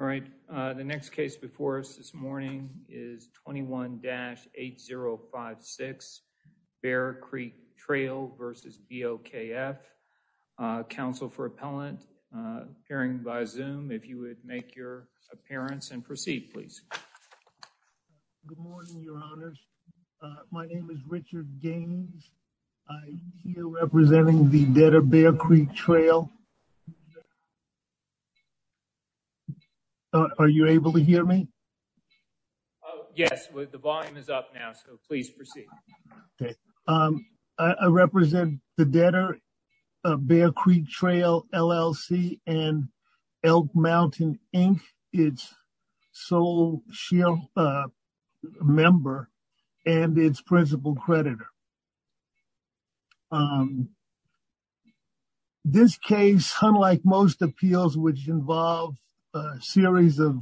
All right, the next case before us this morning is 21-8056 Bear Creek Trail v. BOKF. Counsel for Appellant, appearing by Zoom, if you would make your appearance and proceed, please. Good morning, your honors. My name is Richard Gaines. I'm here representing the dead of Bear Are you able to hear me? Yes, the volume is up now, so please proceed. Okay, I represent the debtor of Bear Creek Trail LLC and Elk Mountain Inc., its sole member and its principal creditor. This case, unlike most appeals which involve a series of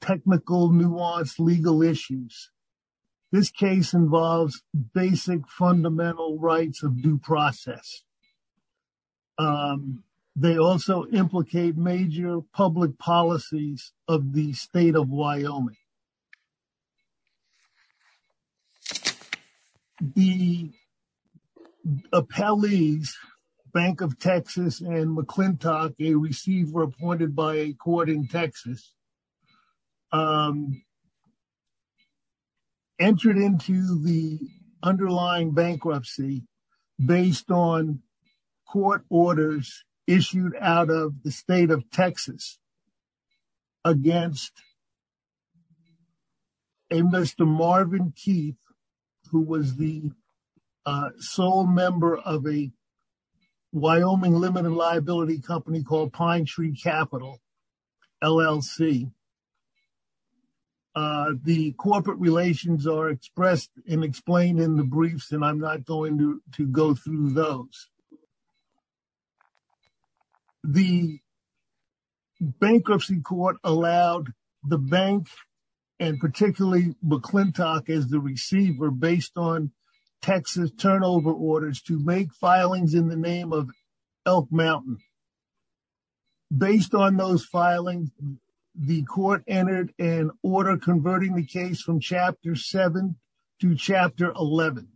technical, nuanced legal issues, this case involves basic fundamental rights of due process. They also implicate major public policies of the state of Wyoming. The appellees, Bank of Texas and McClintock, a receiver appointed by a court in Texas, entered into the underlying bankruptcy based on court orders issued out of the state of Texas against a Mr. Marvin Keith, who was the sole member of a Wyoming limited liability company called Pine Tree Capital LLC. The corporate relations are expressed and explained in the briefs, and I'm not going to go through those. The bankruptcy court allowed the bank, and particularly McClintock as the receiver, based on Texas turnover orders to make filings in the name of Elk Mountain. Based on those filings, the court entered an order converting the case from Chapter 7 to Chapter 11.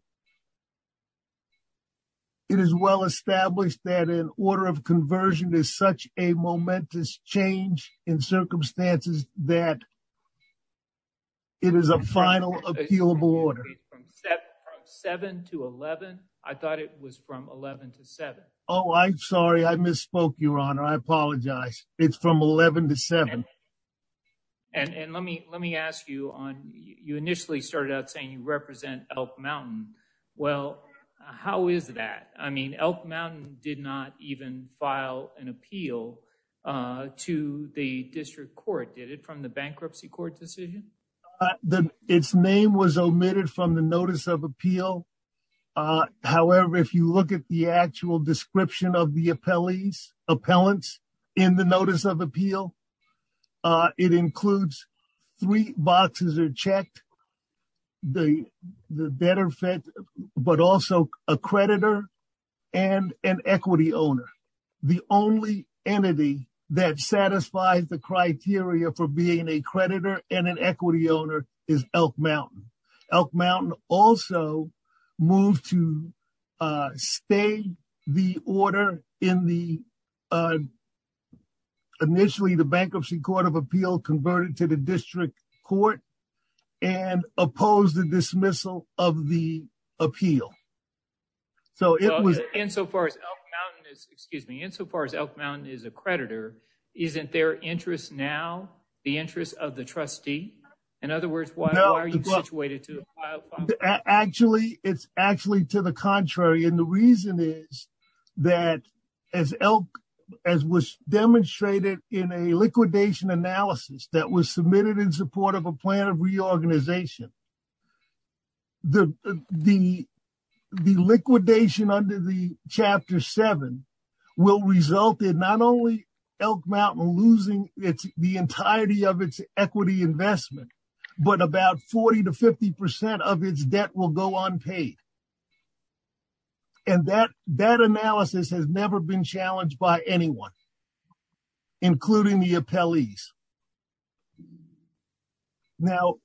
It is well established that an order of conversion is such a momentous change in circumstances that it is a final appealable order. From 7 to 11? I thought it was from 11 to 7. Oh, I'm sorry. I misspoke, Your Honor. I apologize. It's from 11 to 7. And let me ask you, you initially started out saying you represent Elk Mountain. Well, how is that? I mean, Elk Mountain did not even file an appeal to the district court, did it, from the bankruptcy court decision? Its name was omitted from the notice of appeal. However, if you look at the actual description of the appellants in the notice of appeal, it includes three boxes are checked, the debtor, but also a creditor and an equity owner. The only entity that satisfies the criteria for being a creditor and an equity owner is Elk Mountain. Elk Mountain also moved to stay the order in the, initially, the bankruptcy court of appeal converted to the district court and opposed the dismissal of the appeal. So it was insofar as Elk Mountain is, excuse me, insofar as Elk Mountain is a creditor, isn't their interest now the interest of the trustee? In other words, why are you situated to file? Actually, it's actually to the contrary, and the reason is that as Elk, as was demonstrated in a liquidation analysis that was submitted in support of a plan of reorganization, the liquidation under the but about 40 to 50% of its debt will go unpaid. And that that analysis has never been challenged by anyone, including the appellees. Now,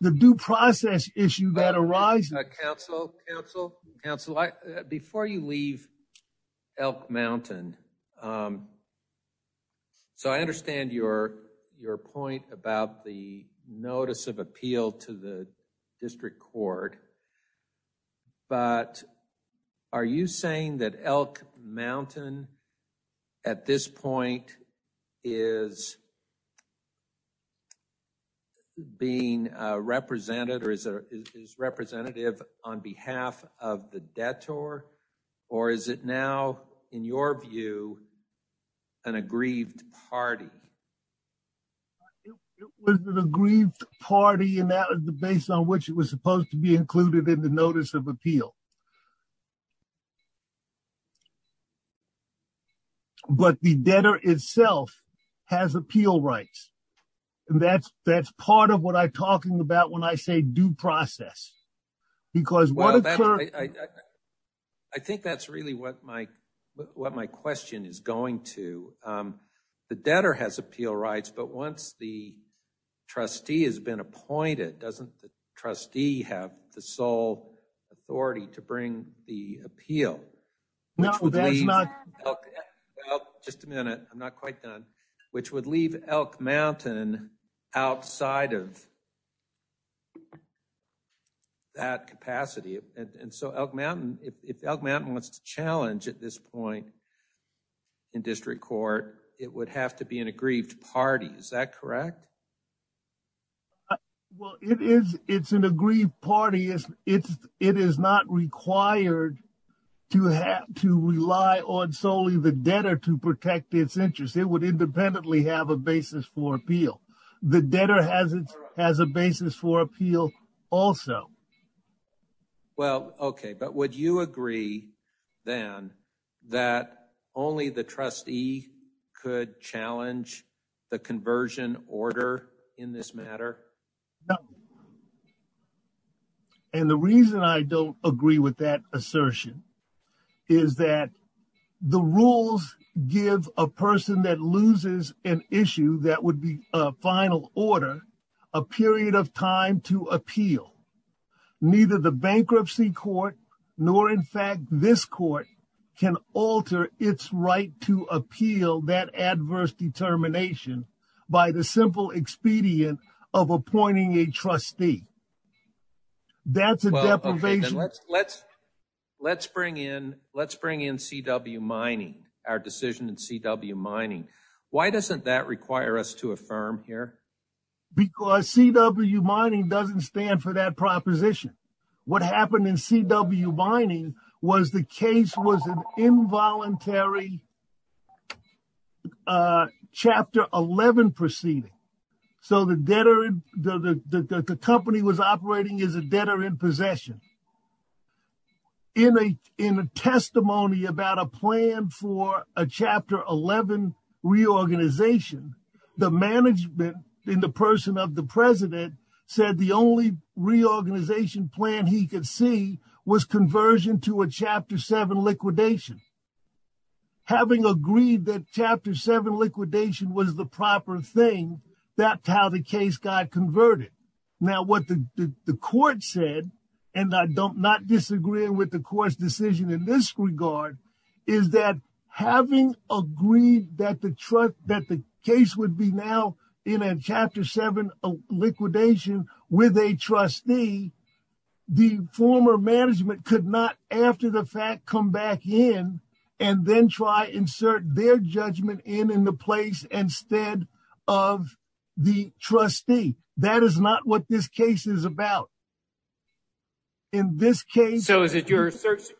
the due process issue that arises. Council, Council, Council, before you leave Elk Mountain, so I understand your your point about the notice of appeal to the district court, but are you saying that Elk Mountain at this point is being represented or is a is representative on behalf of the debtor? Or is it now, in your view, an aggrieved party? It was an aggrieved party and that is the base on which it was supposed to be included in the rights. And that's that's part of what I'm talking about when I say due process, because I think that's really what my what my question is going to. The debtor has appeal rights, but once the trustee has been appointed, doesn't the trustee have the sole authority to bring the appeal? No, just a minute. I'm not quite done, which would leave Elk Mountain outside of that capacity. And so Elk Mountain, if Elk Mountain wants to challenge at this point in district court, it would have to be an aggrieved party. Is that correct? Well, it is. It's an aggrieved party. It is not required to have to rely on solely the debtor to protect its interests. It would independently have a basis for appeal. The debtor has a basis for appeal also. Well, OK, but would you agree then that only the trustee could challenge the conversion order in this matter? No. And the reason I don't agree with that assertion is that the rules give a person that loses an issue that would be a final order a period of time to appeal. Neither the bankruptcy court nor, in fact, this court can alter its right to appeal that adverse determination by the simple expedient of appointing a trustee. That's a deprivation. Let's bring in CW Mining, our decision in CW Mining. Why doesn't that require us to affirm here? Because CW Mining doesn't stand for that proposition. What about Chapter 11 proceeding? So the company was operating as a debtor in possession. In a testimony about a plan for a Chapter 11 reorganization, the management in the person of the president said the only reorganization plan he could see was conversion to a Chapter 7 liquidation. Having agreed that Chapter 7 liquidation was the proper thing, that's how the case got converted. Now what the court said, and I'm not disagreeing with the court's decision in this regard, is that having agreed that the case would be now in a Chapter 7 liquidation with a trustee, the former management could not, after the fact, come back in and then try to insert their judgment in in the place instead of the trustee. That is not what this case is about. In this case... So is it your assertion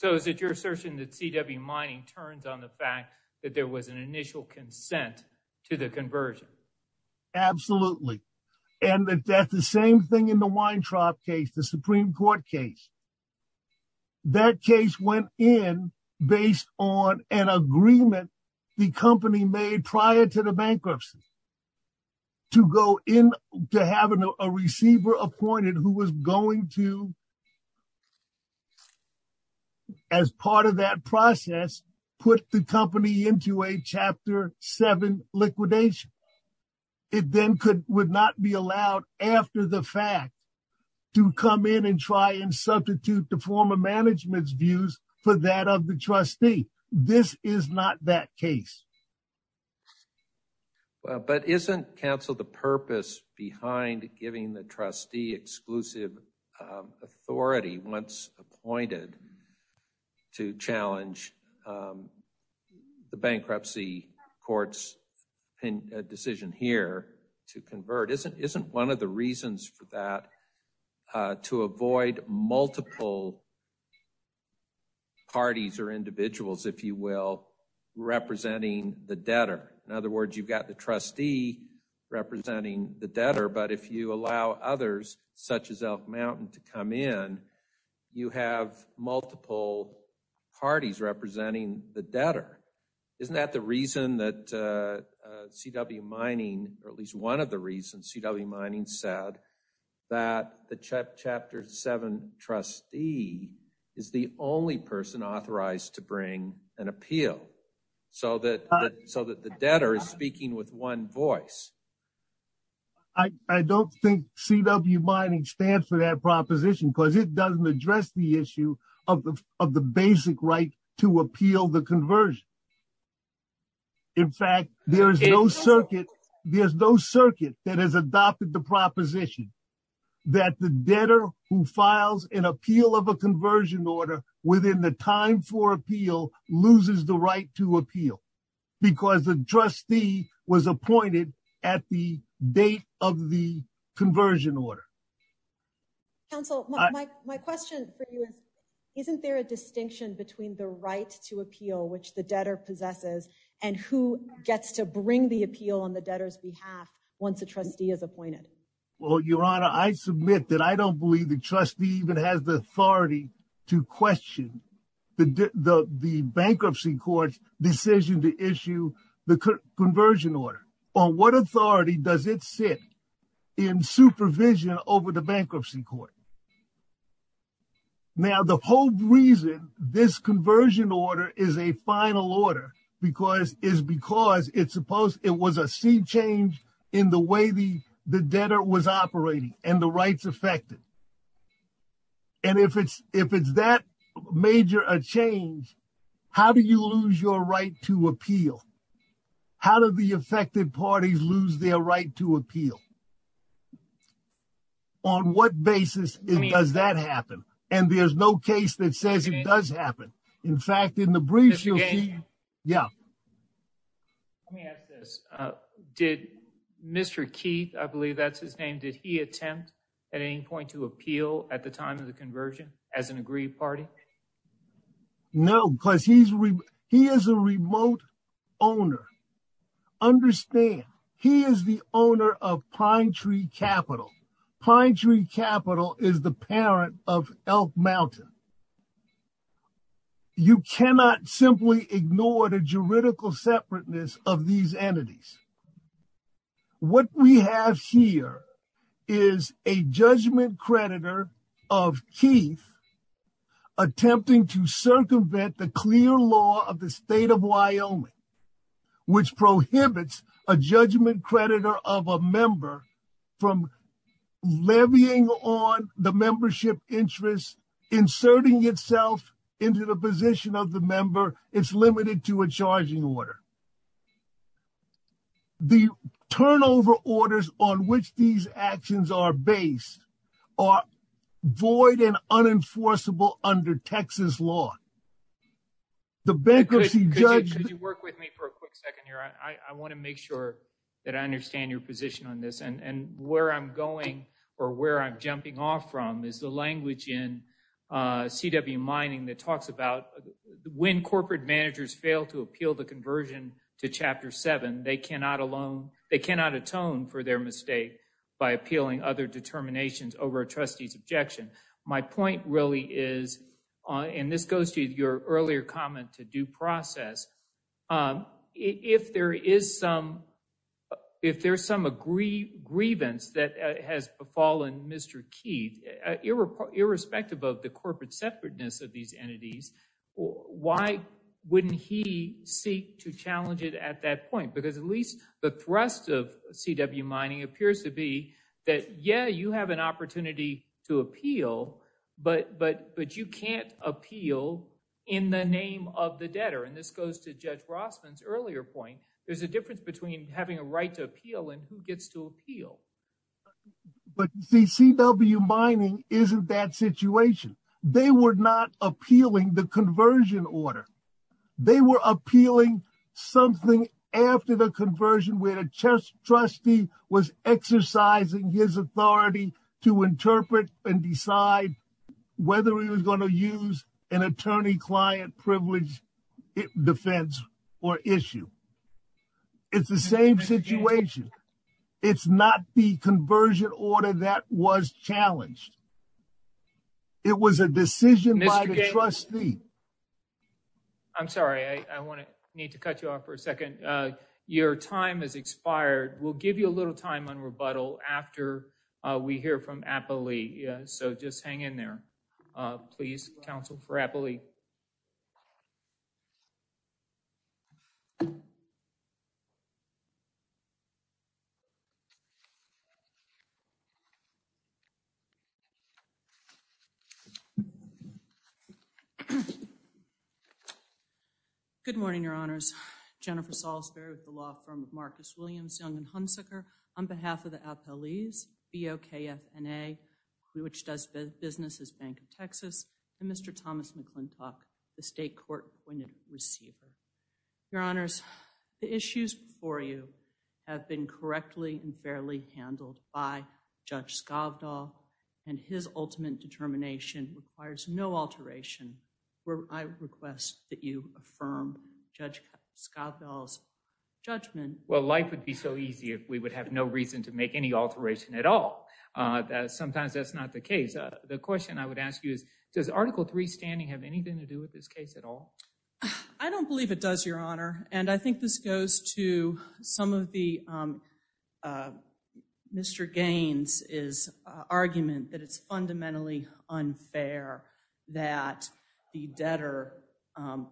that CW Mining turns on the fact that there was an initial consent to the conversion? Absolutely. And that's the same thing in the Weintraub case, the Supreme Court case. That case went in based on an agreement the company made prior to the bankruptcy to go in to have a receiver appointed who was going to, as part of that process, put the company into a Chapter 7 liquidation. It then would not be allowed, after the fact, to come in and try and substitute the former management's views for that of the trustee. This is not that case. But isn't counsel the purpose behind giving the trustee exclusive authority, once appointed, to challenge the bankruptcy court's decision here to convert? Isn't one of the reasons for that to avoid multiple parties or individuals, if you will, representing the debtor? In other words, you've got the trustee representing the debtor, but if you allow others, such as Elk Mountain, to come in, you have multiple parties representing the debtor. Isn't that the reason that CW Mining, or at least one of the reasons CW Mining said that the Chapter 7 trustee is the only person to bring an appeal so that the debtor is speaking with one voice? I don't think CW Mining stands for that proposition because it doesn't address the issue of the basic right to appeal the conversion. In fact, there is no circuit that has adopted the proposition that the debtor who files an appeal of a conversion order within the time for appeal loses the right to appeal because the trustee was appointed at the date of the conversion order. Counsel, my question for you is, isn't there a distinction between the right to appeal, which the debtor possesses, and who gets to bring the appeal on the debtor's behalf once a trustee is appointed? Well, Your Honor, I submit that I don't believe the trustee even has the authority to question the bankruptcy court's decision to issue the conversion order. On what authority does it sit in supervision over the bankruptcy court? Now, the whole reason this conversion order is a final order is because it was a seed change in the way the debtor was operating and the rights affected. And if it's that major a change, how do you lose your right to appeal? How do the affected parties lose their right to appeal? On what basis does that happen? And there's no case that says it does happen. In fact, in the briefs, you'll see, yeah. Let me ask this. Did Mr. Keith, I believe that's his name, did he attempt at any point to appeal at the time of the conversion as an agreed party? No, because he is a remote owner. Understand, he is the owner of Pine Tree Capital. Pine Tree Capital is the parent of Elk Mountain. You cannot simply ignore the juridical separateness of these entities. What we have here is a judgment creditor of Keith attempting to circumvent the clear law of the levying on the membership interest, inserting itself into the position of the member. It's limited to a charging order. The turnover orders on which these actions are based are void and unenforceable under Texas law. The bankruptcy judge- Could you work with me for a quick second here? I want to make sure that I understand your position on this and where I'm going or where I'm jumping off from is the language in CW Mining that talks about when corporate managers fail to appeal the conversion to Chapter 7, they cannot atone for their mistake by appealing other determinations over a trustee's objection. My point really is, and this goes to your earlier comment to due if there's some grievance that has befallen Mr. Keith, irrespective of the corporate separateness of these entities, why wouldn't he seek to challenge it at that point? Because at least the thrust of CW Mining appears to be that, yeah, you have an opportunity to appeal, but you can't appeal in the name of the debtor. And this goes to Judge Rossman's earlier point. There's a right to appeal, and who gets to appeal? But CW Mining isn't that situation. They were not appealing the conversion order. They were appealing something after the conversion where a trustee was exercising his authority to interpret and decide whether he was going to use an attorney-client privilege defense or issue. It's the same situation. It's not the conversion order that was challenged. It was a decision by the trustee. I'm sorry, I want to need to cut you off for a second. Your time has expired. We'll give you a little time on rebuttal after we hear from APLEE. So just hang in there. Please, counsel for APLEE. Good morning, your honors. Jennifer Salisbury with the law firm of Marcus Williams, Young & Hunsaker on behalf of the APLEE's, BOKFNA, which does business as Bank of Texas, and Mr. Thomas McClintock, the state court-appointed receiver. Your honors, the issues before you have been correctly and fairly handled by Judge Skovdahl, and his ultimate determination requires no alteration. I request that you affirm Judge Skovdahl's judgment. Well, life would be so easy if we would have no reason to make any alteration at all. Sometimes that's not the case. The question I would ask you is, does Article III standing have anything to do with this case at all? I don't believe it does, your honor, and I think this goes to some of the Mr. Gaines' argument that it's fundamentally unfair that the debtor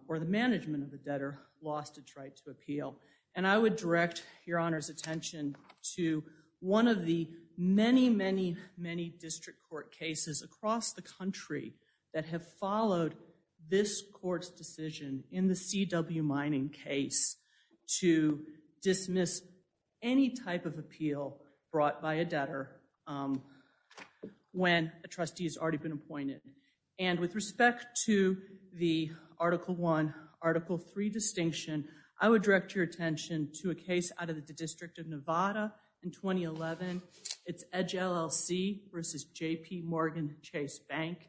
or the management of the debtor lost its right to appeal, and I would direct your honor's attention to one of the many, many, many district court cases across the country that have followed this court's decision in the C.W. Mining case to dismiss any type of appeal brought by a debtor when a trustee has already been appointed, and with to a case out of the District of Nevada in 2011. It's Edge LLC versus J.P. Morgan Chase Bank,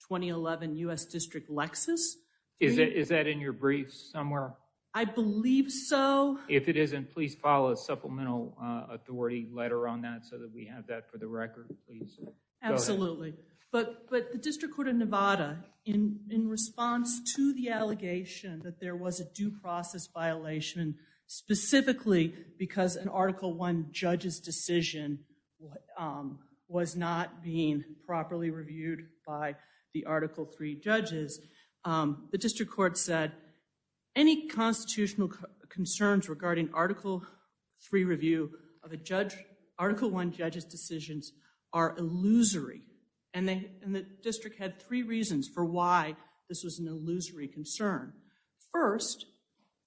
2011 U.S. District Lexus. Is that in your briefs somewhere? I believe so. If it isn't, please file a supplemental authority letter on that so that we have that for the record, please. Absolutely, but the District Court of Nevada, in response to the allegation that there was a due process violation specifically because an Article I judge's decision was not being properly reviewed by the Article III judges, the District Court said any constitutional concerns regarding Article III review of an Article I judge's decisions are illusory, and the district had three reasons for why this was an illusory concern. First,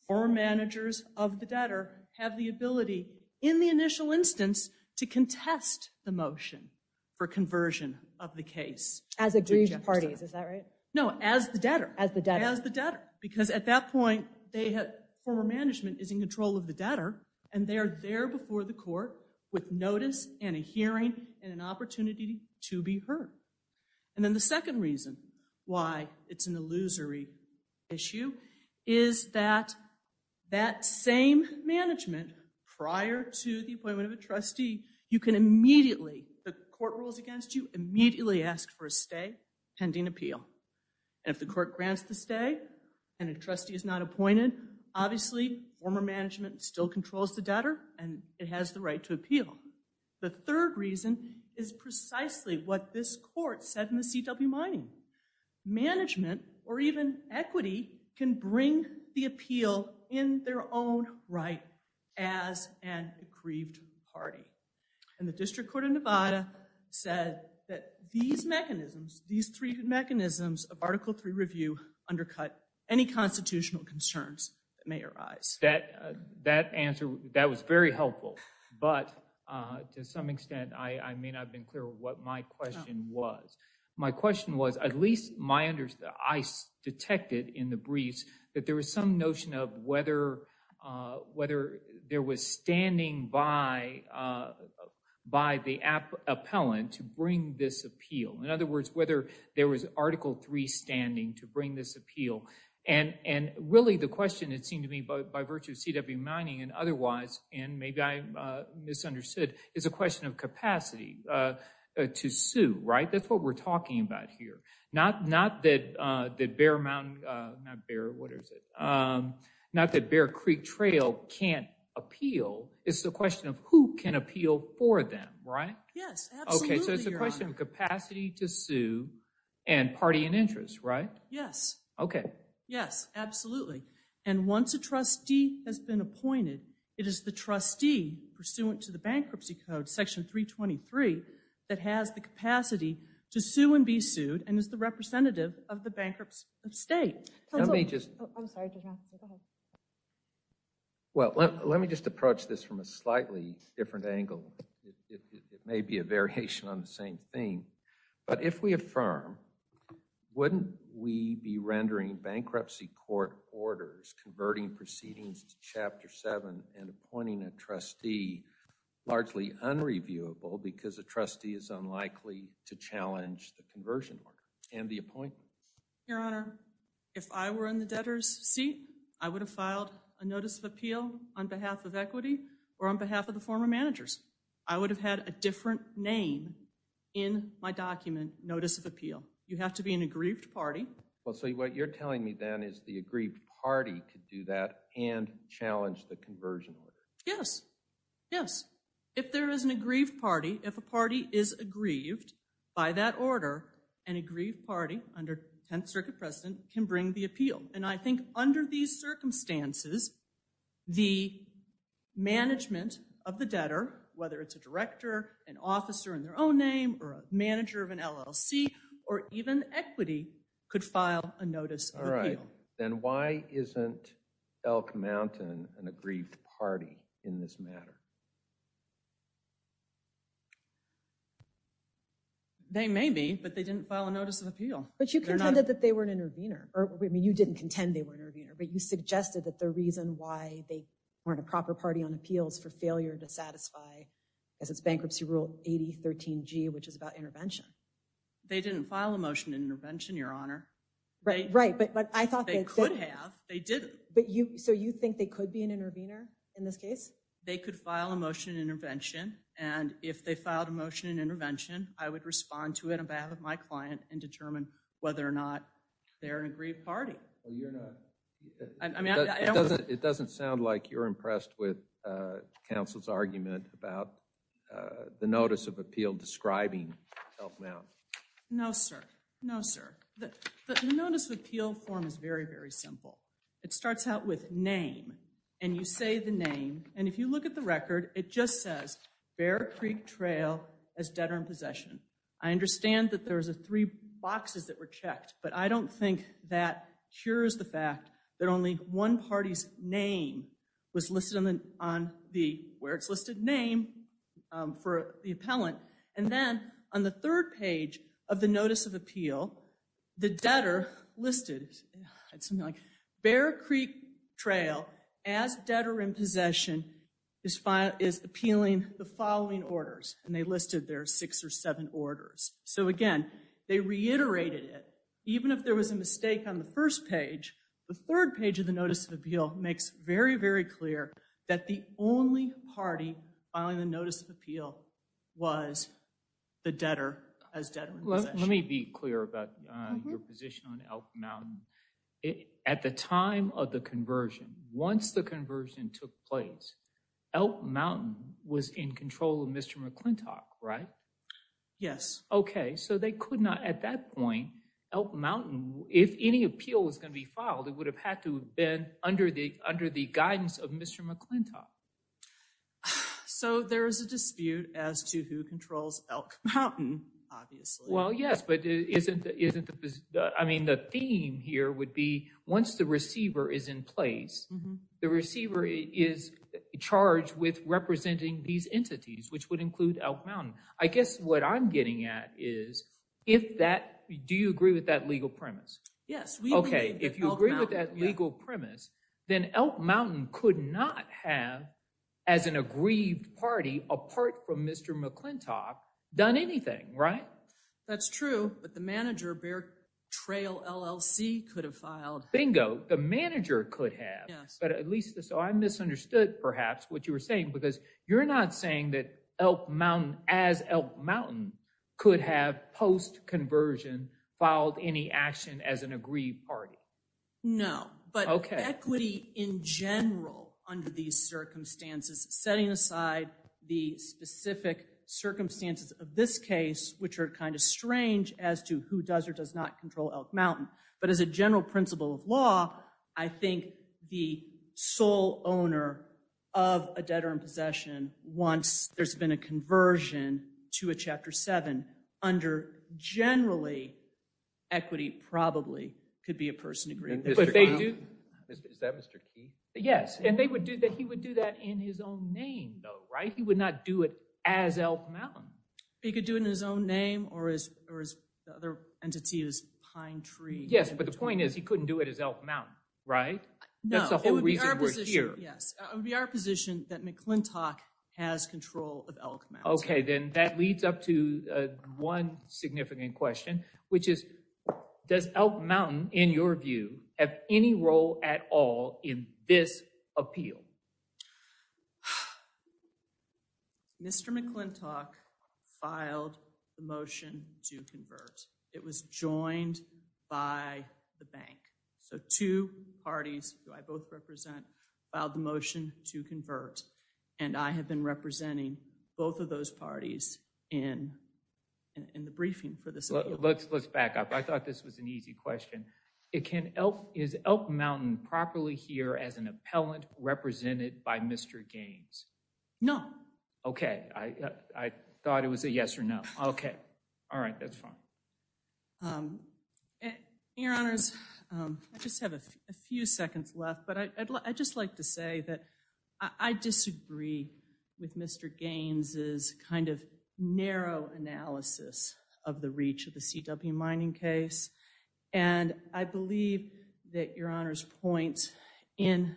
former managers of the debtor have the ability, in the initial instance, to contest the motion for conversion of the case. As aggrieved parties, is that right? No, as the debtor. As the debtor. As the debtor, because at that point, former management is in control of the debtor, and they are there before the court with notice and a hearing and an opportunity to be heard. And then the second reason why it's an illusory issue is that that same management, prior to the appointment of a trustee, you can immediately, if the court rules against you, immediately ask for a stay pending appeal. And if the court grants the stay and a trustee is not appointed, obviously former management still controls the debtor, and it has the right to appeal. The third reason is precisely what this court said in the CW mining. Management, or even equity, can bring the appeal in their own right as an aggrieved party. And the District Court of Nevada said that these mechanisms, these three mechanisms of Article III review undercut any constitutional concerns that may arise. That answer, that was very helpful, but to some extent I may not have been clear with what my question was. My question was, at least my understanding, I detected in the briefs that there was some notion of whether there was standing by the appellant to bring this appeal. In other words, whether there was Article III standing to bring this appeal. And really the CW mining and otherwise, and maybe I misunderstood, is a question of capacity to sue, right? That's what we're talking about here. Not that Bear Mountain, not Bear, what is it, not that Bear Creek Trail can't appeal. It's the question of who can appeal for them, right? Yes, absolutely. Okay, so it's a question of capacity to sue and party and interest, right? Yes. Okay. Yes, absolutely. And once a trustee has been appointed, it is the trustee pursuant to the Bankruptcy Code, Section 323, that has the capacity to sue and be sued and is the representative of the bankruptcy of state. Let me just, I'm sorry, go ahead. Well, let me just approach this from a slightly different angle. It may be a variation on the same theme, but if we affirm, wouldn't we be in bankruptcy court orders converting proceedings to Chapter 7 and appointing a trustee largely unreviewable because a trustee is unlikely to challenge the conversion order and the appointment? Your Honor, if I were in the debtor's seat, I would have filed a notice of appeal on behalf of equity or on behalf of the former managers. I would have had a different name in my document, notice of appeal. You have to be an aggrieved party. Well, so what you're telling me then is the aggrieved party could do that and challenge the conversion order. Yes. Yes. If there is an aggrieved party, if a party is aggrieved by that order, an aggrieved party under 10th Circuit President can bring the appeal. And I think under these circumstances, the management of the debtor, whether it's a director, an officer in their own name, or a manager of an LLC, or even equity, could file a notice of appeal. All right. Then why isn't Elk Mountain an aggrieved party in this matter? They may be, but they didn't file a notice of appeal. But you contended that they were an intervener. I mean, you didn't contend they were an intervener, but you suggested that the reason why they weren't a proper party on appeals for failure to satisfy, as it's bankruptcy rule 8013g, which is about intervention. They didn't file a motion in intervention, Your Honor. Right. Right. But I thought they could have. They didn't. So you think they could be an intervener in this case? They could file a motion in intervention. And if they filed a motion in intervention, I would respond to it on behalf of my client and determine whether or not they're an aggrieved party. It doesn't sound like you're impressed with counsel's argument about the notice of appeal describing Elk Mountain. No, sir. No, sir. The notice of appeal form is very, very simple. It starts out with name. And you say the name. And if you look at the record, it just says Bear Creek Trail as debtor in possession. I understand that there's three boxes that were cures the fact that only one party's name was listed on the where it's listed name for the appellant. And then on the third page of the notice of appeal, the debtor listed something like Bear Creek Trail as debtor in possession is appealing the following orders. And they listed their six or seven orders. So again, they reiterated it. Even if there was a mistake on the first page, the third page of the notice of appeal makes very, very clear that the only party filing the notice of appeal was the debtor as debtor in possession. Let me be clear about your position on Elk Mountain. At the time of the conversion, once the conversion took place, Elk Mountain was in control of Mr. McClintock, right? Yes. Okay. So they could not at that point, Elk Mountain, if any appeal was going to be filed, it would have had to have been under the under the guidance of Mr. McClintock. So there is a dispute as to who controls Elk Mountain, obviously. Well, yes, but it isn't. I mean, the theme here would be once the receiver is in place, the receiver is charged with representing these entities, which would agree with that legal premise. Yes. Okay. If you agree with that legal premise, then Elk Mountain could not have, as an agreed party apart from Mr. McClintock, done anything, right? That's true. But the manager, Bear Trail LLC, could have filed. Bingo. The manager could have. Yes. But at least so I misunderstood perhaps what you were saying, because you're not saying that Elk Mountain as Elk Mountain could have post-conversion filed any action as an agreed party. No, but equity in general under these circumstances, setting aside the specific circumstances of this case, which are kind of strange as to who does or does not control Elk Mountain, but as a general principle of law, I think the sole owner of a debtor in possession, once there's been a conversion to a Chapter 7, under generally, equity probably could be a person agreed. But they do. Is that Mr. Keith? Yes, and they would do that. He would do that in his own name, though, right? He would not do it as Elk Mountain. He could do it in his own name or as the other entity is Pine Tree. Yes, but the Right? No. That's the whole reason we're here. Yes, it would be our position that McClintock has control of Elk Mountain. Okay, then that leads up to one significant question, which is does Elk Mountain, in your view, have any role at all in this appeal? Mr. McClintock filed the motion to convert. It was joined by the bank. So, two parties who I both represent filed the motion to convert, and I have been representing both of those parties in the briefing for this appeal. Let's back up. I thought this was an easy question. Is Elk Mountain properly here as an appellant represented by Mr. Gaines? No. Okay. I thought it was a yes or no. Okay. All right. That's fine. Your Honors, I just have a few seconds left, but I'd just like to say that I disagree with Mr. Gaines' final analysis of the reach of the CW mining case, and I believe that Your Honors' point in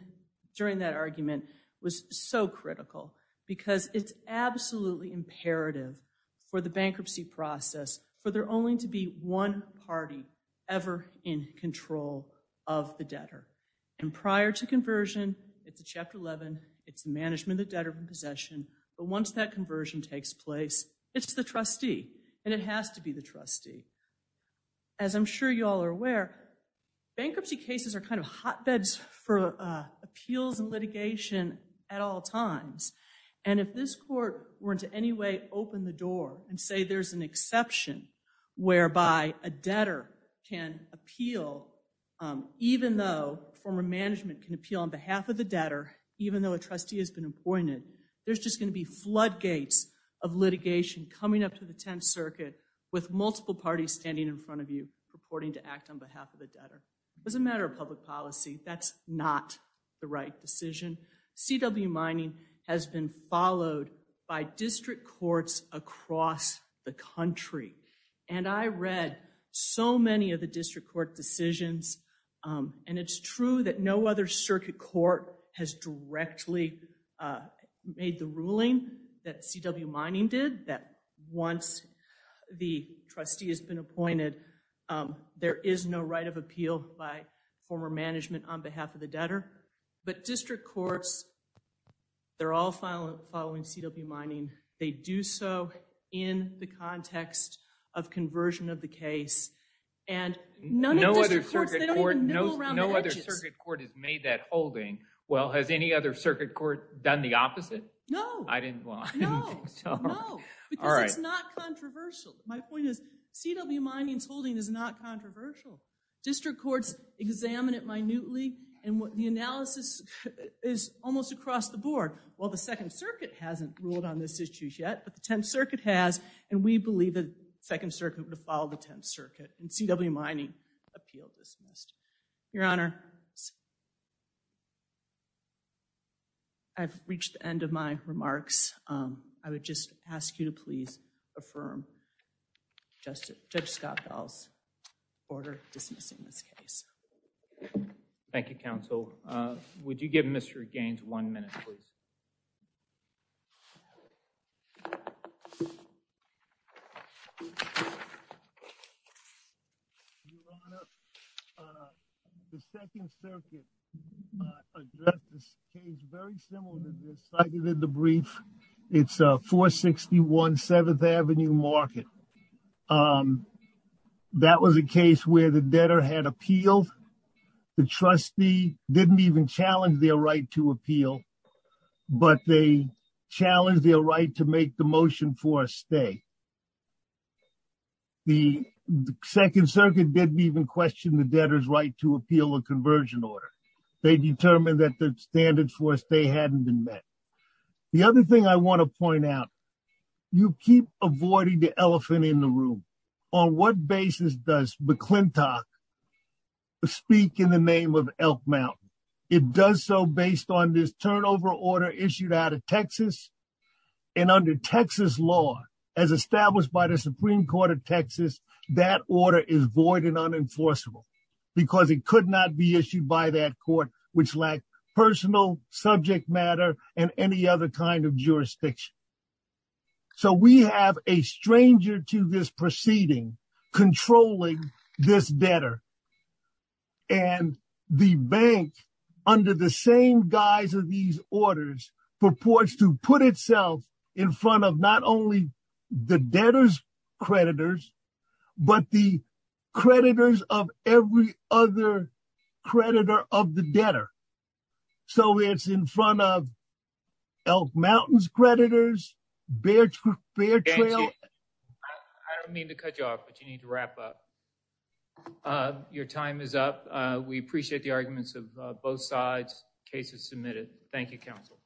during that argument was so critical because it's absolutely imperative for the bankruptcy process for there only to be one party ever in control of the debtor, and prior to conversion, it's a Chapter 11. It's the management of the debtor from possession, but once that conversion takes place, it's the trustee, and it has to be the trustee. As I'm sure you all are aware, bankruptcy cases are kind of hotbeds for appeals and litigation at all times, and if this court were to in any way open the door and say there's an exception whereby a debtor can appeal even though former management can appeal on behalf of the debtor even though a trustee has been appointed, there's just going to be floodgates of litigation coming up to the Tenth Circuit with multiple parties standing in front of you purporting to act on behalf of the debtor. It doesn't matter public policy. That's not the right decision. CW mining has been followed by district courts across the country, and I read so many of the district court decisions, and it's true that no other circuit court has directly made the ruling that CW mining did that once the trustee has been appointed, there is no right of appeal by former management on behalf of the debtor, but district courts, they're all following CW mining. They do so in the context of conversion of the case, and no other circuit court has made that holding. Well, has any other circuit court done the opposite? No. I didn't know. No, because it's not controversial. My point is CW mining's holding is not controversial. District courts examine it minutely, and the analysis is almost across the board. Well, the Second Circuit hasn't ruled on this issue yet, but the Tenth Circuit has, and we believe the Second Circuit would have followed the Tenth Circuit, and CW mining appeal dismissed. Your Honor, I've reached the end of my remarks. I would just ask you to please affirm Judge Scott Bell's order dismissing this case. Thank you, counsel. Would you give Mr. Gaines one minute, please? Your Honor, the Second Circuit addressed this case very similar to this cited in the brief. It's 461 Seventh Avenue Market. That was a case where the debtor had appealed. The trustee didn't even challenge their right to appeal, but they challenged their right to make the motion for a stay. The Second Circuit didn't even question the debtor's right to appeal a conversion order. They determined that the standards for a stay hadn't been met. The other thing I want to point out, you keep avoiding the elephant in the room. On what basis does McClintock speak in the name of Elk Mountain? It does so based on this turnover order issued out of Texas and under Texas law, as established by the Supreme Court of Texas, that order is void and unenforceable because it could not be issued by that court which lacked personal subject matter and any other kind of jurisdiction. So we have a stranger to this proceeding controlling this bank under the same guise of these orders purports to put itself in front of not only the debtor's creditors, but the creditors of every other creditor of the debtor. So it's in front of Elk Mountain's creditors, Bear Trail. I don't mean to cut you off, but you need to both sides. Case is submitted. Thank you, counsel.